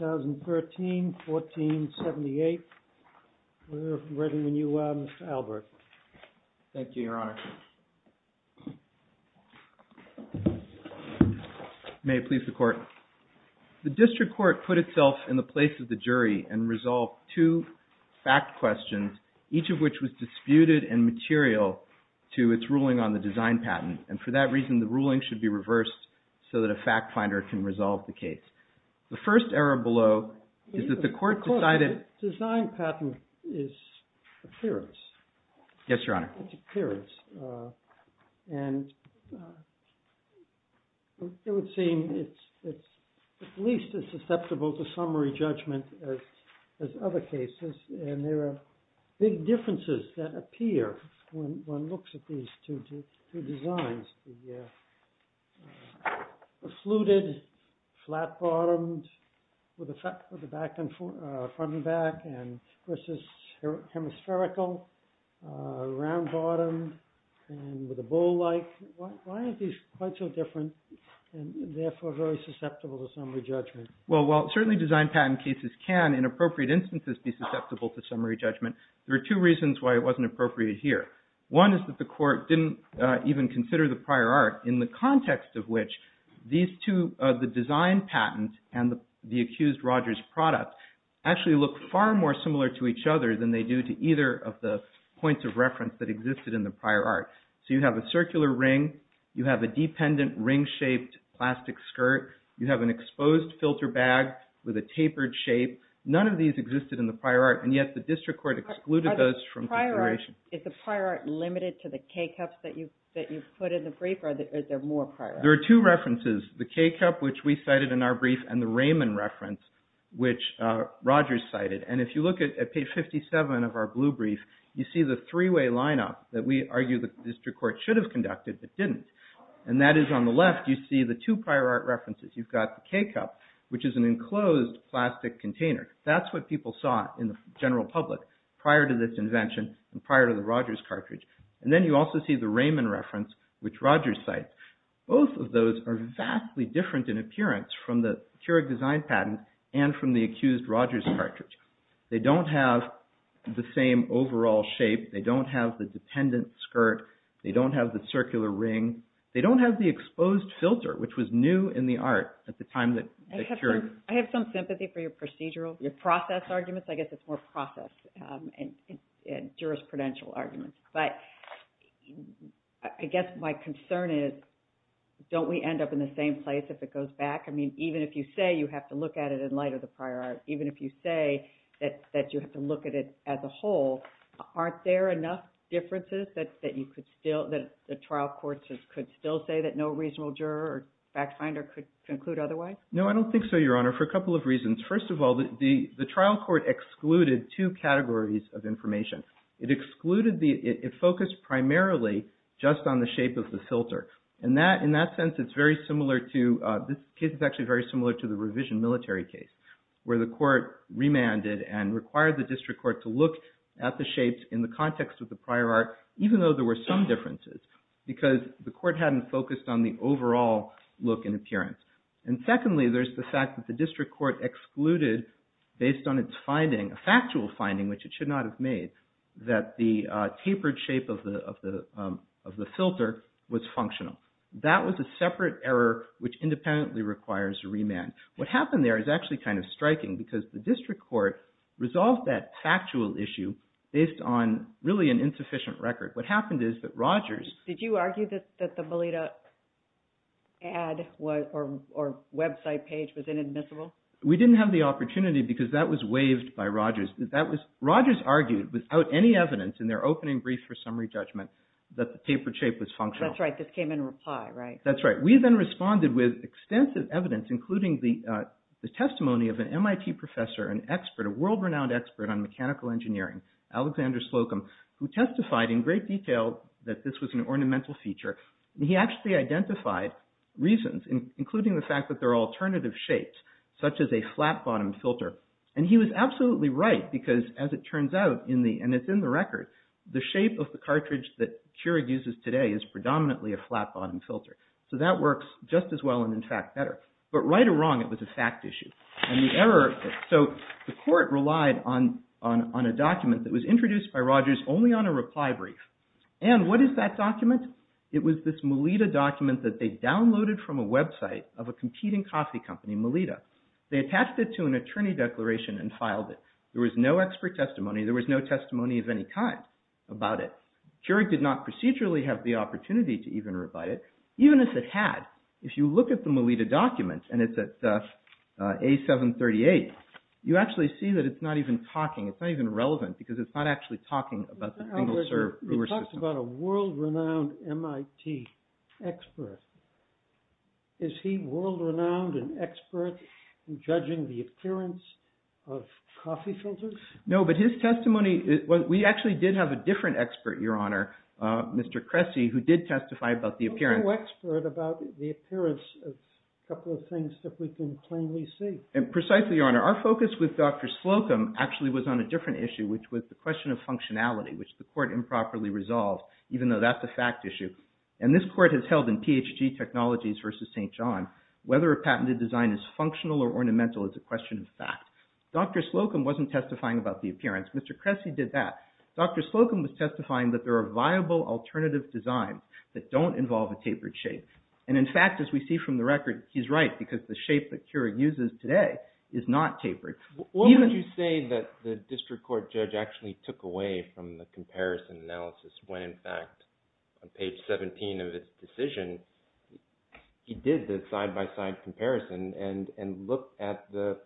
2013. 1478. We're ready when you are, Mr. Albert. Thank you, Your Honor. May it please the Court. The District Court put itself in the place of the jury and resolved two fact questions, each of which was disputed and material to its ruling on the design patent, and for that reason the ruling should be reversed so that a fact finder can resolve the case. The first error below is that the Court decided... The design patent is appearance. Yes, Your Honor. It's appearance. And it would seem it's at least as susceptible to summary judgment as other cases. And there are big differences that appear when one looks at these two designs. One is the fluted, flat-bottomed, with a front and back, and this is hemispherical, round-bottomed, and with a bowl-like. Why are these quite so different, and therefore very susceptible to summary judgment? Well, while certainly design patent cases can, in appropriate instances, be susceptible to summary judgment, there are two reasons why it wasn't appropriate here. One is that the Court didn't even consider the prior art, in the context of which these two, the design patent and the accused Roger's product, actually look far more similar to each other than they do to either of the points of reference that existed in the prior art. So you have a circular ring, you have a dependent ring-shaped plastic skirt, you have an exposed filter bag with a tapered shape. None of these existed in the prior art, and yet the District Court excluded those from consideration. Is the prior art limited to the K-Cups that you put in the brief, or is there more prior art? There are two references, the K-Cup, which we cited in our brief, and the Raymond reference, which Roger cited. And if you look at page 57 of our blue brief, you see the three-way lineup that we argue the District Court should have conducted, but didn't. And that is, on the left, you see the two prior art references. You've got the K-Cup, which is an enclosed plastic container. That's what people saw in the general public prior to this invention and prior to the Roger's cartridge. And then you also see the Raymond reference, which Roger cites. Both of those are vastly different in appearance from the Keurig design patent and from the accused Roger's cartridge. They don't have the same overall shape. They don't have the dependent skirt. They don't have the circular ring. They don't have the exposed filter, which was new in the art at the time that Keurig... I have some sympathy for your procedural, your process arguments. I guess it's more process and jurisprudential arguments. But I guess my concern is, don't we end up in the same place if it goes back? I mean, even if you say you have to look at it in light of the prior art, even if you say that you have to look at it as a whole, aren't there enough differences that you could still, that the trial courts could still say that no reasonable juror or fact finder could conclude otherwise? No, I don't think so, Your Honor, for a couple of reasons. First of all, the trial court excluded two categories of information. It excluded the, it focused primarily just on the shape of the filter. And that, in that sense, it's very similar to, this case is actually very similar to the revision military case, where the court remanded and required the district court to look at the shapes in the context of the prior art, even though there were some differences, because the court hadn't focused on the overall look and appearance. And secondly, there's the fact that the district court excluded, based on its finding, a factual finding, which it should not have made, that the tapered shape of the filter was functional. That was a separate error, which independently requires a remand. What happened there is actually kind of striking, because the district court resolved that factual issue based on, really, an insufficient record. What happened is that Rogers... The website page was inadmissible? We didn't have the opportunity, because that was waived by Rogers. Rogers argued, without any evidence, in their opening brief for summary judgment, that the tapered shape was functional. That's right. This came in reply, right? That's right. We then responded with extensive evidence, including the testimony of an MIT professor, an expert, a world-renowned expert on mechanical engineering, Alexander Slocum, who testified in great detail that this was an ornamental feature. He actually identified reasons, including the fact that there are alternative shapes, such as a flat-bottomed filter. He was absolutely right, because, as it turns out, and it's in the record, the shape of the cartridge that Keurig uses today is predominantly a flat-bottomed filter. So that works just as well and, in fact, better. But right or wrong, it was a fact issue. The court relied on a document that was introduced by Rogers only on a reply brief. What is that document? It was this Melitta document that they downloaded from a website of a competing coffee company, Melitta. They attached it to an attorney declaration and filed it. There was no expert testimony. There was no testimony of any kind about it. Keurig did not procedurally have the opportunity to even reply to it, even if it had. If you look at the Melitta document, and it's at A738, you actually see that it's not even talking. It's not even relevant, because it's not actually talking about the single-serve brewer system. You're talking about a world-renowned MIT expert. Is he world-renowned and expert in judging the appearance of coffee filters? No, but his testimony... We actually did have a different expert, Your Honor, Mr. Cressy, who did testify about the appearance. There's no expert about the appearance of a couple of things that we can plainly see. Precisely, Your Honor. Our focus with Dr. Slocum actually was on a different issue, which was the question of functionality, which the court improperly resolved, even though that's a fact issue. This court has held in PHG Technologies v. St. John, whether a patented design is functional or ornamental is a question of fact. Dr. Slocum wasn't testifying about the appearance. Mr. Cressy did that. Dr. Slocum was testifying that there are viable alternative designs that don't involve a tapered shape. In fact, as we see from the record, he's right, because the shape that Keurig uses today is not tapered. What would you say that the district court judge actually took away from the comparison analysis when, in fact, on page 17 of his decision, he did the side-by-side comparison and looked at the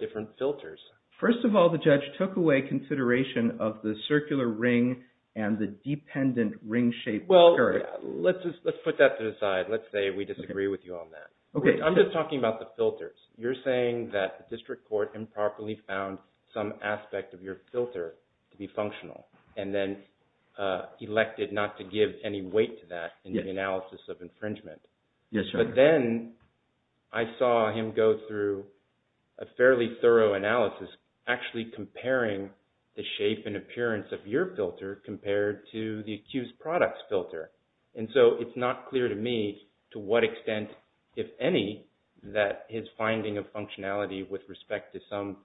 different filters? First of all, the judge took away consideration of the circular ring and the dependent ring shape of Keurig. Well, let's put that to the side. Let's say we disagree with you on that. I'm just talking about the filters. You're saying that the district court improperly found some aspect of your filter to be functional and then elected not to give any weight to that in the analysis of infringement. But then I saw him go through a fairly thorough analysis actually comparing the shape and appearance of your filter compared to the accused product's filter. And so it's not clear to me to what extent, if any, that his finding of functionality with respect to some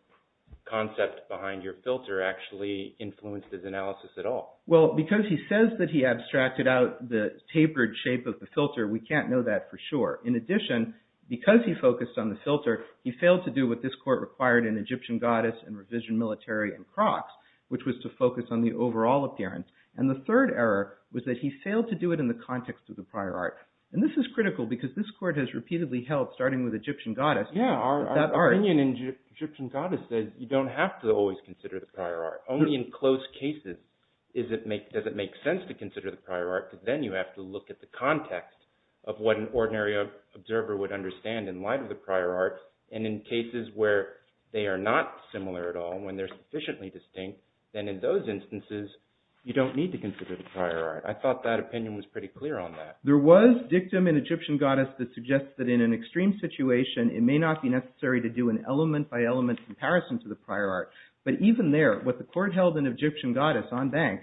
concept behind your filter actually influenced his analysis at all. Well, because he says that he abstracted out the tapered shape of the filter, we can't know that for sure. In addition, because he focused on the filter, he failed to do what this court required in Egyptian Goddess and Revision Military and Crocs, which was to focus on the overall appearance. And the third error was that he failed to do it in the context of the prior art. And this is critical because this court has repeatedly held, starting with Egyptian Goddess, that art... Yeah, our opinion in Egyptian Goddess says you don't have to always consider the prior art. Only in close cases does it make sense to consider the prior art because then you have to look at the context of what an ordinary observer would understand in light of the prior art. And in cases where they are not similar at all, when they're sufficiently distinct, then in those instances, you don't need to consider the prior art. I thought that opinion was pretty clear on that. There was dictum in Egyptian Goddess that suggests that in an extreme situation, it may not be necessary to do an element-by-element comparison to the prior art. But even there, what the court held in Egyptian Goddess on bank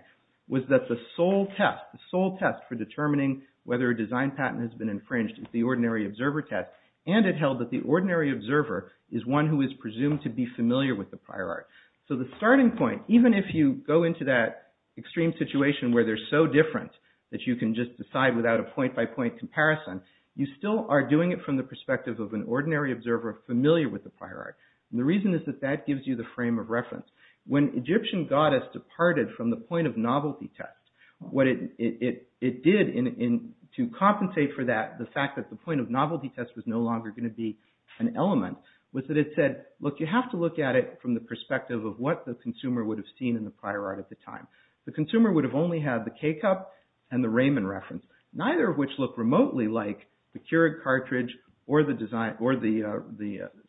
was that the sole test, the sole test for determining whether a design patent has been infringed is the ordinary observer test. And it held that the ordinary observer is one who is presumed to be familiar with the prior art. So the starting point, even if you go into that extreme situation where they're so different that you can just decide without a point-by-point comparison, you still are doing it from the perspective of an ordinary observer familiar with the prior art. And the reason is that that gives you the frame of reference. When Egyptian Goddess departed from the point-of-novelty test, what it did to compensate for that, the fact that the point-of-novelty test was no longer going to be an element, was that it said, look, you have to look at it from the perspective of what the consumer would have seen in the prior art at the time. The consumer would have only had the K-cup and the Raymond reference, neither of which look remotely like the Keurig cartridge or the design, or the,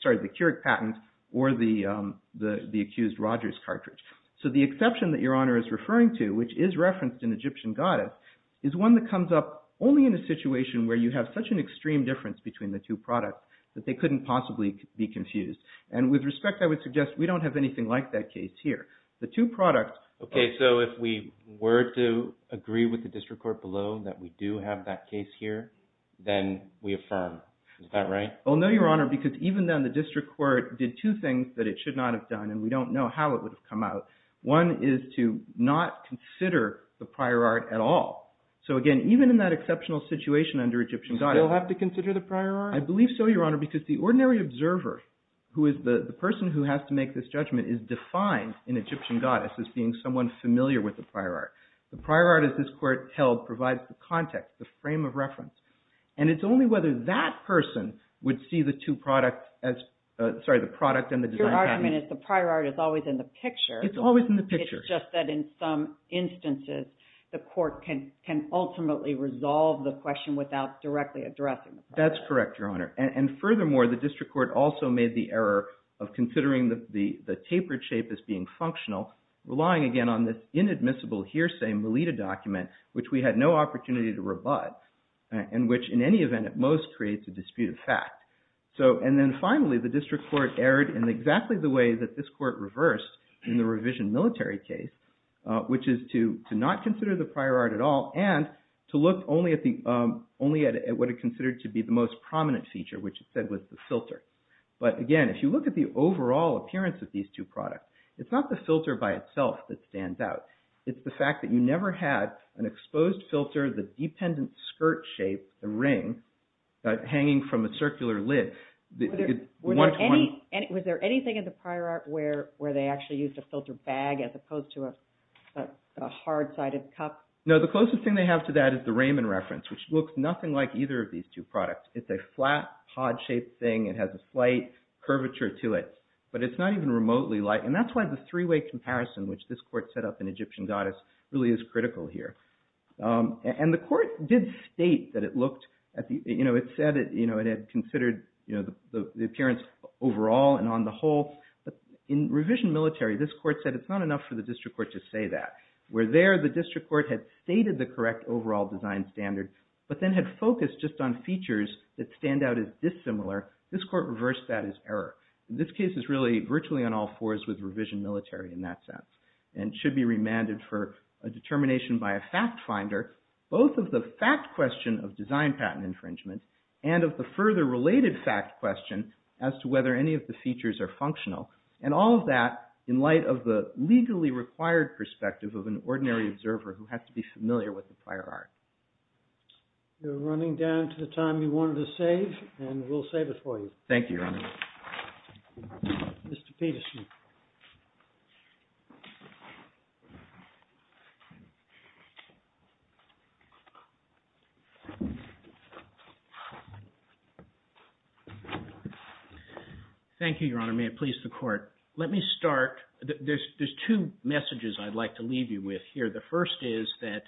sorry, the Keurig patent or the accused Rogers cartridge. So the exception that Your Honor is referring to, which is referenced in Egyptian Goddess, is one that comes up only in a situation where you have such an extreme difference between the two products that they couldn't possibly be confused. And with respect, I would suggest we don't have anything like that case here. The two products... Okay, so if we were to agree with the district court below that we do have that case here, then we affirm. Is that right? Oh, no, Your Honor, because even then the district court did two things that it should not have done, and we don't know how it would have come out. One is to not consider the prior art at all. So again, even in that exceptional situation under Egyptian Goddess... Do we still have to consider the prior art? I believe so, Your Honor, because the ordinary observer who is the person who has to make this judgment is defined in Egyptian Goddess as being someone familiar with the prior art. The prior art, as this court held, provides the context, the frame of reference. And it's only whether that person would see the two products as, sorry, the product and the design patent... Your argument is the prior art is always in the picture. It's always in the picture. It's just that in some instances the court can ultimately resolve the question without directly addressing the prior art. That's correct, Your Honor. And furthermore, the district court also made the error of considering the tapered shape as being functional, relying again on this inadmissible hearsay Melitta document, which we had no opportunity to rebut, and which in any event at most creates a dispute of fact. And then finally, the district court erred in exactly the way that this court reversed in the revision military case, which is to not consider the prior art at all and to look only at what it considered to be the most prominent feature, which it said was the filter. But again, if you look at the overall appearance of these two products, it's not the filter by itself that stands out. It's the fact that you never had an exposed filter, the dependent skirt shape, the ring, hanging from a circular lid. Was there anything in the prior art where they actually used a filter bag as opposed to a hard-sided cup? No. The closest thing they have to that is the Raymond reference, which looks nothing like either of these two products. It's a flat, pod-shaped thing. It has a slight curvature to it, but it's not even remotely light. And that's why the three-way comparison, which this court set up in Egyptian goddess, really is critical here. And the court did state that it looked at the – it said it had considered the appearance overall and on the whole. But in revision military, this court said it's not enough for the district court to say that. Where there, the district court had stated the correct overall design standard, but then had focused just on features that stand out as dissimilar, this court reversed that as error. And this case is really virtually on all fours with revision military in that sense and should be remanded for a determination by a fact finder, both of the fact question of design patent infringement and of the further related fact question as to whether any of the features are functional. And all of that in light of the legally required perspective of an ordinary observer who has to be familiar with the prior art. You're running down to the time you wanted to save, and we'll save it for you. Thank you, Your Honor. Mr. Peterson. Thank you, Your Honor. May it please the court. Let me start – there's two messages I'd like to leave you with here. The first is that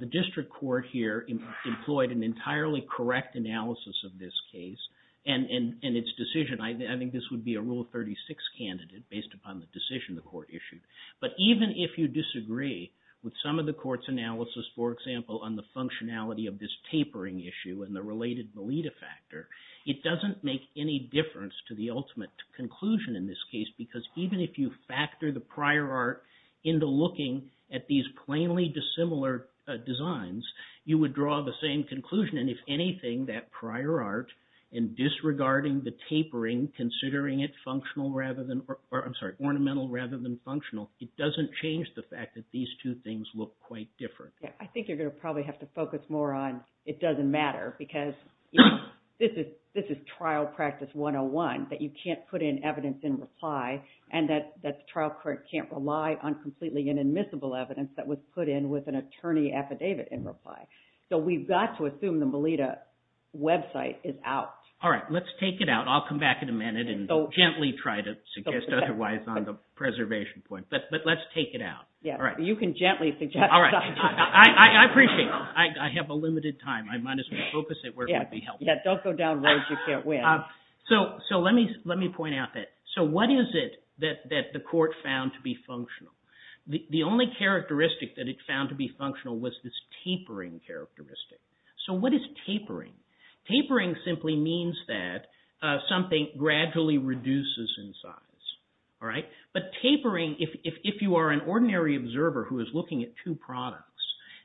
the district court here employed an entirely correct analysis of this case and its decision. I think this would be a Rule 36 candidate based upon the decision the court issued. But even if you disagree with some of the court's analysis, for example, on the functionality of this tapering issue and the related valida factor, it doesn't make any difference to the ultimate conclusion in this case because even if you factor the prior art into looking at these plainly dissimilar designs, you would draw the same conclusion. And if anything, that prior art, in disregarding the tapering, considering it ornamental rather than functional, it doesn't change the fact that these two things look quite different. I think you're going to probably have to focus more on it doesn't matter because this is trial practice 101, that you can't put in evidence in reply and that the trial court can't rely on completely inadmissible evidence that was put in with an attorney affidavit in reply. So we've got to assume the valida website is out. All right. Let's take it out. I'll come back in a minute and gently try to suggest otherwise on the preservation point. But let's take it out. Yeah. All right. You can gently suggest. All right. I appreciate it. I have a limited time. I might as well focus it where it might be helpful. Yeah. Don't go down roads you can't win. So let me point out that. So what is it that the court found to be functional? The only characteristic that it found to be functional was this tapering characteristic. So what is tapering? Tapering simply means that something gradually reduces in size. All right. But tapering, if you are an ordinary observer who is looking at two products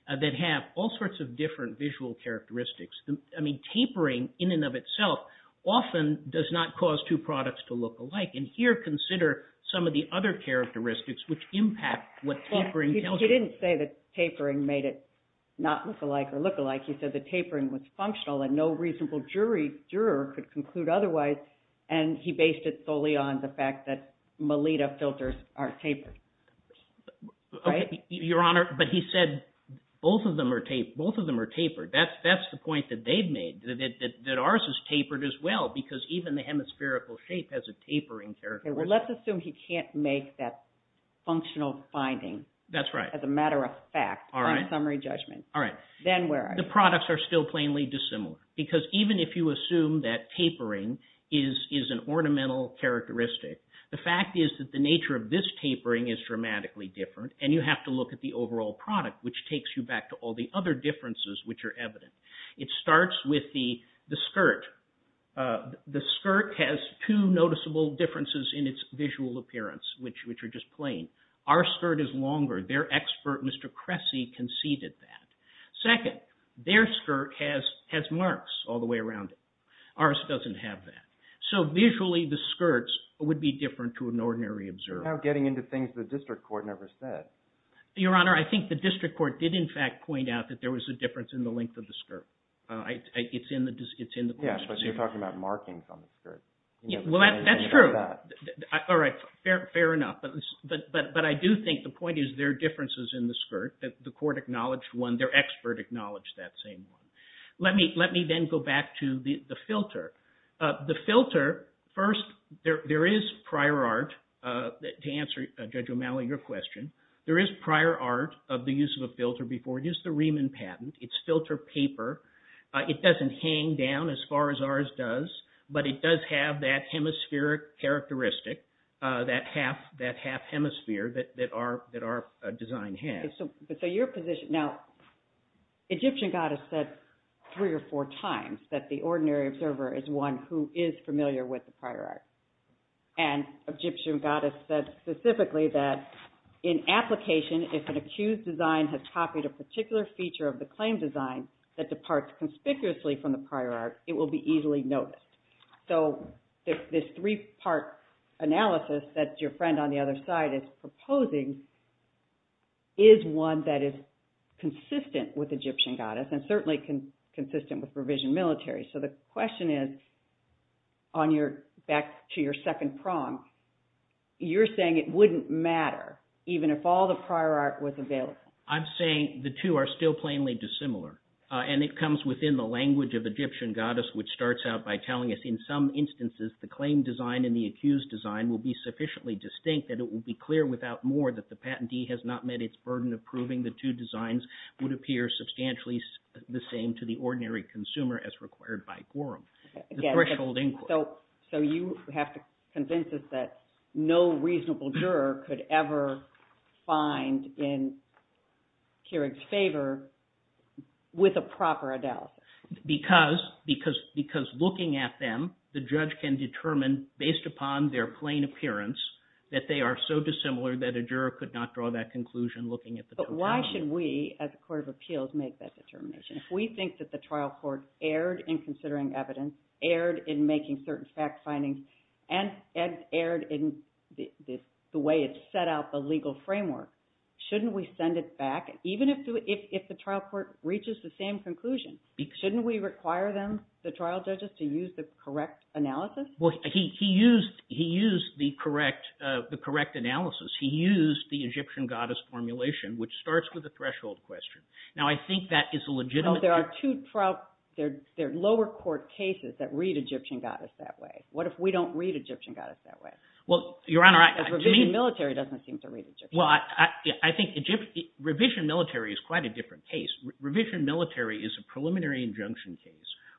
that have all sorts of different visual characteristics, I mean tapering in and of itself often does not cause two products to look alike. And here consider some of the other characteristics which impact what tapering tells you. Well, he didn't say that tapering made it not look alike or look alike. He said that tapering was functional and no reasonable juror could conclude otherwise. And he based it solely on the fact that Melitta filters are tapered. Right? Your Honor, but he said both of them are tapered. That's the point that they've made, that ours is tapered as well because even the hemispherical shape has a tapering characteristic. Well, let's assume he can't make that functional finding. That's right. As a matter of fact. All right. In summary judgment. All right. Then where are you? The products are still plainly dissimilar because even if you assume that tapering is an ornamental characteristic, the fact is that the nature of this tapering is dramatically different and you have to look at the overall product which takes you back to all the other differences which are evident. It starts with the skirt. The skirt has two noticeable differences in its visual appearance which are just plain. Our skirt is longer. Their expert, Mr. Cressy, conceded that. Second, their skirt has marks all the way around it. Ours doesn't have that. So visually the skirts would be different to an ordinary observer. You're now getting into things the district court never said. Your Honor, I think the district court did in fact point out that there was a difference in the length of the skirt. It's in the question. Yes, but you're talking about markings on the skirt. Well, that's true. All right. Fair enough. But I do think the point is there are differences in the skirt. The court acknowledged one. Their expert acknowledged that same one. Let me then go back to the filter. The filter, first, there is prior art to answer Judge O'Malley, your question. There is prior art of the use of a filter before. Here's the Riemann patent. It's filter paper. It doesn't hang down as far as ours does, but it does have that hemispheric characteristic, that half hemisphere that our design has. So your position, now Egyptian goddess said three or four times that the ordinary observer is one who is familiar with the prior art. And Egyptian goddess said specifically that in application, if an accused design has copied a particular feature of the claim design that departs conspicuously from the prior art, it will be easily noticed. So this three-part analysis that your friend on the other side is proposing is one that is consistent with Egyptian goddess and certainly consistent with revision military. So the question is, back to your second prompt, you're saying it wouldn't matter even if all the prior art was available. I'm saying the two are still plainly dissimilar. And it comes within the language of Egyptian goddess, which starts out by telling us, in some instances, the claim design and the accused design will be sufficiently distinct that it will be clear without more that the patentee has not met its burden of proving the two designs would appear substantially the same to the ordinary consumer as required by Gorham. The threshold inquiry. So you have to convince us that no reasonable juror could ever find in Keurig's favor with a proper analysis. Because looking at them, the judge can determine, based upon their plain appearance, that they are so dissimilar that a juror could not draw that conclusion looking at the totality. But why should we, as a court of appeals, make that determination? If we think that the trial court erred in considering evidence, erred in making certain fact findings, and erred in the way it set out the legal framework, shouldn't we send it back? Even if the trial court reaches the same conclusion, shouldn't we require them, the trial judges, to use the correct analysis? He used the correct analysis. He used the Egyptian goddess formulation, which starts with a threshold question. There are two lower court cases that read Egyptian goddess that way. What if we don't read Egyptian goddess that way? Revision military doesn't seem to read Egyptian goddess that way. Revision military is quite a different case. Revision military is a preliminary injunction case,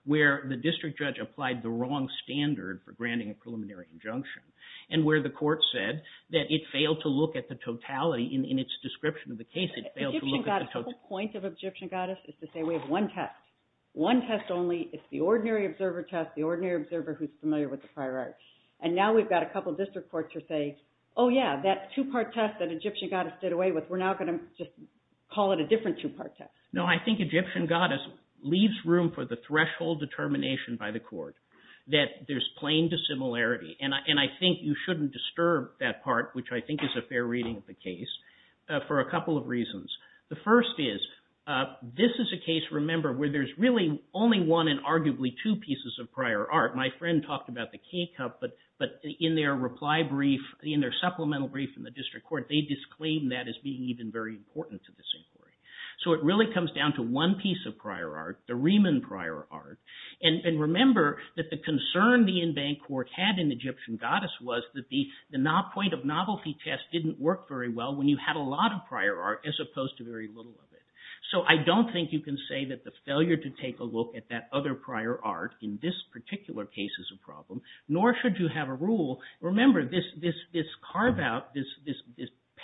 where the district judge applied the wrong standard for granting a preliminary injunction. And where the court said that it failed to look at the totality in its description of the case. The whole point of Egyptian goddess is to say we have one test. One test only. It's the ordinary observer test, the ordinary observer who's familiar with the prior art. And now we've got a couple district courts who say, oh yeah, that two-part test that Egyptian goddess did away with, we're now going to just call it a different two-part test. No, I think Egyptian goddess leaves room for the threshold determination by the court, that there's plain dissimilarity. And I think you shouldn't disturb that part, which I think is a fair reading of the case, for a couple of reasons. The first is, this is a case, remember, where there's really only one and arguably two pieces of prior art. My friend talked about the key cup, but in their reply brief, in their supplemental brief in the district court, they disclaimed that as being even very important to this inquiry. So it really comes down to one piece of prior art, the Riemann prior art. And remember that the concern the in-bank court had in Egyptian goddess was that the point of novelty test didn't work very well when you had a lot of prior art as opposed to very little of it. So I don't think you can say that the failure to take a look at that other prior art in this particular case is a problem, nor should you have a rule. Remember, this carve-out, this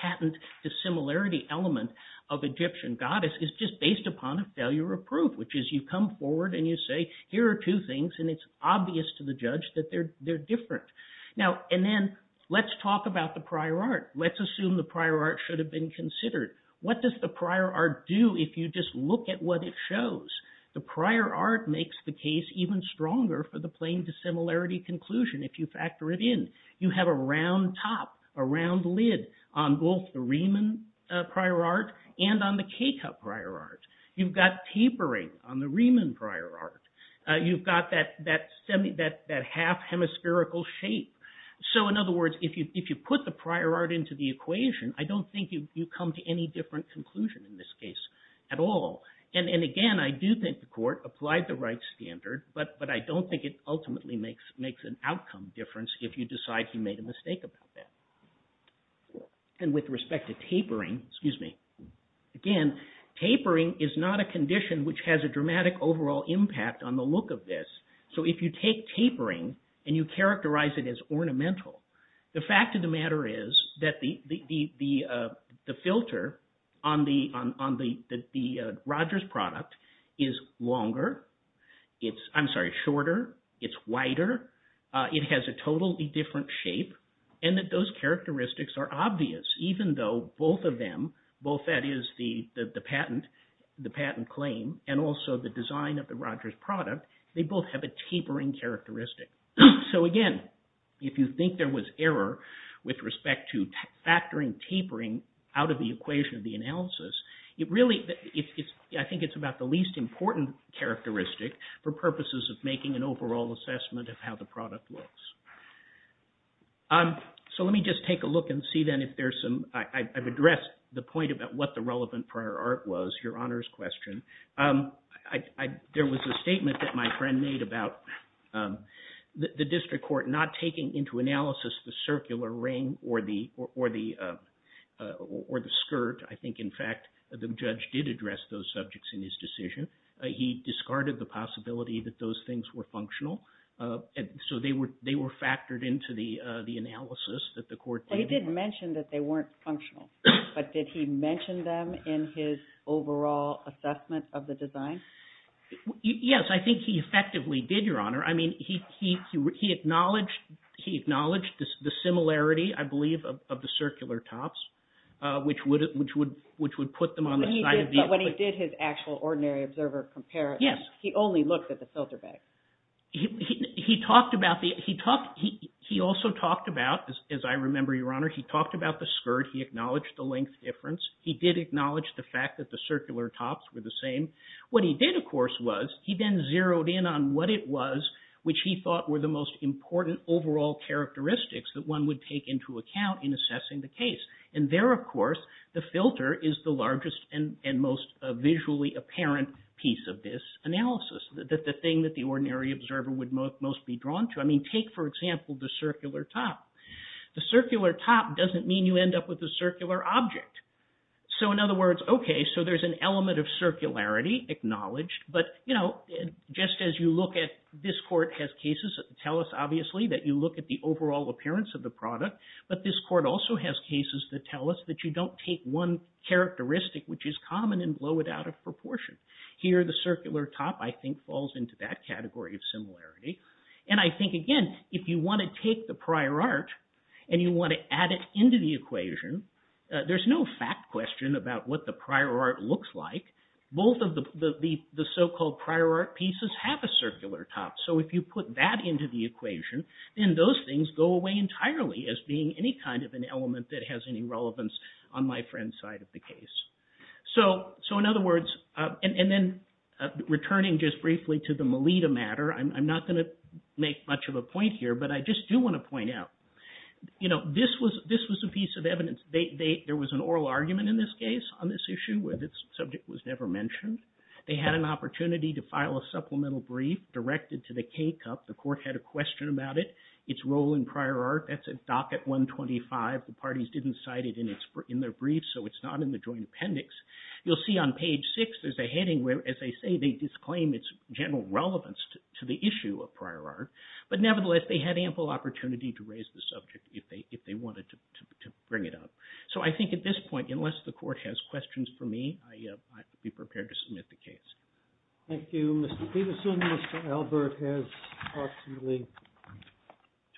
patent dissimilarity element of Egyptian goddess is just based upon a failure of proof, which is you come forward and you say, here are two things, and it's obvious to the judge that they're different. And then let's talk about the prior art. Let's assume the prior art should have been considered. What does the prior art do if you just look at what it shows? The prior art makes the case even stronger for the plain dissimilarity conclusion if you factor it in. You have a round top, a round lid on both the Riemann prior art and on the key cup prior art. You've got tapering on the Riemann prior art. You've got that half hemispherical shape. So in other words, if you put the prior art into the equation, I don't think you come to any different conclusion in this case at all. And again, I do think the court applied the right standard, but I don't think it ultimately makes an outcome difference if you decide you made a mistake about that. And with respect to tapering, again, tapering is not a condition which has a dramatic overall impact on the look of this. So if you take tapering and you characterize it as ornamental, the fact of the matter is that the filter on the Rogers product is longer. It's, I'm sorry, shorter. It's wider. It has a totally different shape. And that those characteristics are obvious even though both of them, both that is the patent, the patent claim, and also the design of the Rogers product, they both have a tapering characteristic. So again, if you think there was error with respect to factoring tapering out of the equation of the analysis, it really, I think it's about the least important characteristic for purposes of making an overall assessment of how the product looks. So let me just take a look and see then if there's some, I've addressed the point about what the relevant prior art was, Your Honor's question. There was a statement that my friend made about the district court not taking into analysis the circular ring or the skirt. I think, in fact, the judge did address those subjects in his decision. He discarded the possibility that those things were functional. So they were factored into the analysis that the court did. He did mention that they weren't functional, but did he mention them in his overall assessment of the design? Yes, I think he effectively did, Your Honor. I mean, he acknowledged the similarity, I believe, of the circular tops, which would put them on the side of the... But when he did his actual ordinary observer comparison, he only looked at the filter bag. He talked about the, he also talked about, as I remember, Your Honor, he talked about the skirt. He acknowledged the length difference. He did acknowledge the fact that the circular tops were the same. What he did, of course, was he then zeroed in on what it was, which he thought were the most important overall characteristics that one would take into account in assessing the case. And there, of course, the filter is the largest and most visually apparent piece of this analysis, the thing that the ordinary observer would most be drawn to. I mean, take, for example, the circular top. The circular top doesn't mean you end up with a circular object. So, in other words, okay, so there's an element of circularity acknowledged, but, you know, just as you look at... This court has cases that tell us, obviously, that you look at the overall appearance of the product, but this court also has cases that tell us that you don't take one characteristic, which is common, and blow it out of proportion. Here, the circular top, I think, falls into that category of similarity. And I think, again, if you want to take the prior art and you want to add it into the equation, there's no fact question about what the prior art looks like. Both of the so-called prior art pieces have a circular top. So if you put that into the equation, then those things go away entirely as being any kind of an element that has any relevance on my friend's side of the case. So, in other words... And then, returning just briefly to the Melitta matter, I'm not going to make much of a point here, but I just do want to point out, you know, this was a piece of evidence. There was an oral argument in this case on this issue where this subject was never mentioned. They had an opportunity to file a supplemental brief directed to the K-Cup. The court had a question about it, its role in prior art. That's at docket 125. The parties didn't cite it in their brief, so it's not in the joint appendix. You'll see on page 6, there's a heading where, as they say, they disclaim its general relevance to the issue of prior art. But nevertheless, they had ample opportunity to raise the subject if they wanted to bring it up. So I think at this point, unless the court has questions for me, I'd be prepared to submit the case. Thank you. Mr. Peterson, Mr. Albert has approximately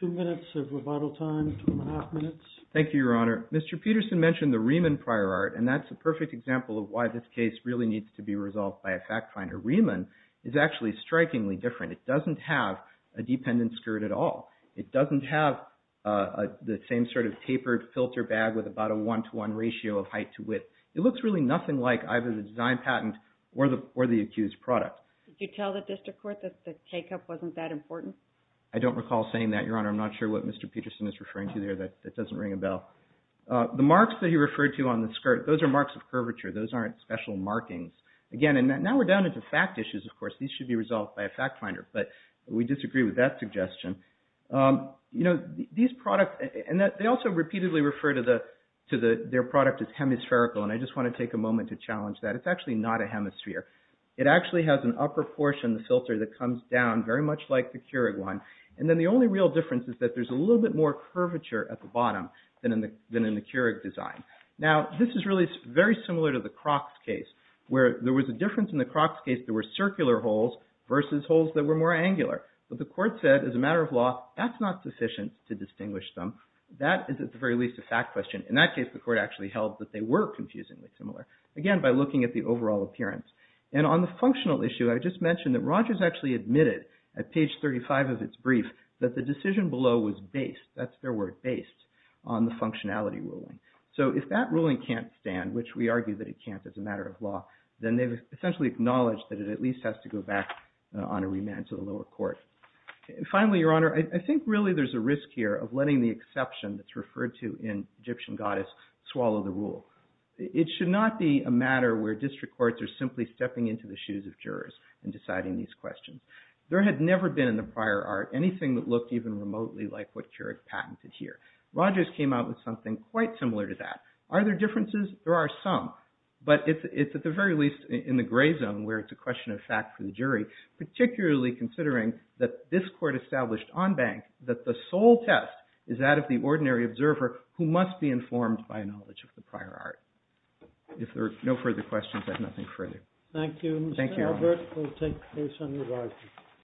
two minutes of rebuttal time, two and a half minutes. Thank you, Your Honor. Mr. Peterson mentioned the Riemann prior art, and that's a perfect example of why this case really needs to be resolved by a fact finder. Riemann is actually strikingly different. It doesn't have a dependent skirt at all. It doesn't have the same sort of tapered filter bag with about a one-to-one ratio of height to width. It looks really nothing like either the design patent or the accused product. Did you tell the district court that the K-Cup wasn't that important? I don't recall saying that, Your Honor. I'm not sure what Mr. Peterson is referring to there that doesn't ring a bell. The marks that he referred to on the skirt, those are marks of curvature. Those aren't special markings. Now we're down into fact issues, of course. These should be resolved by a fact finder, but we disagree with that suggestion. These products, and they also repeatedly refer to their product as hemispherical, and I just want to take a moment to challenge that. It's actually not a hemisphere. It actually has an upper portion of the filter that comes down very much like the Keurig one, and then the only real difference is that there's a little bit more curvature at the bottom than in the Keurig design. Now this is really very similar to the Crocs case, where there was a difference in the Crocs case. There were circular holes versus holes that were more angular, but the court said, as a matter of law, that's not sufficient to distinguish them. That is, at the very least, a fact question. In that case, the court actually held that they were confusingly similar, again, by looking at the overall appearance. And on the functional issue, I just mentioned that Rogers actually admitted at page 35 of its brief that the decision below was based, that's their word, based, on the functionality ruling. So if that ruling can't stand, which we argue that it can't as a matter of law, then they've essentially acknowledged that it at least has to go back on a remand to the lower court. Finally, Your Honor, I think really there's a risk here of letting the exception that's referred to in Egyptian Goddess swallow the rule. It should not be a matter where district courts are simply stepping into the shoes of jurors and deciding these questions. There had never been in the prior art anything that looked even remotely like what Keurig patented here. Rogers came out with something quite similar to that. Are there differences? There are some. But it's at the very least in the gray zone where it's a question of fact for the jury, particularly considering that this court established on bank that the sole test is that of the ordinary observer who must be informed by a knowledge of the prior art. I have nothing further. Thank you. Thank you, Your Honor.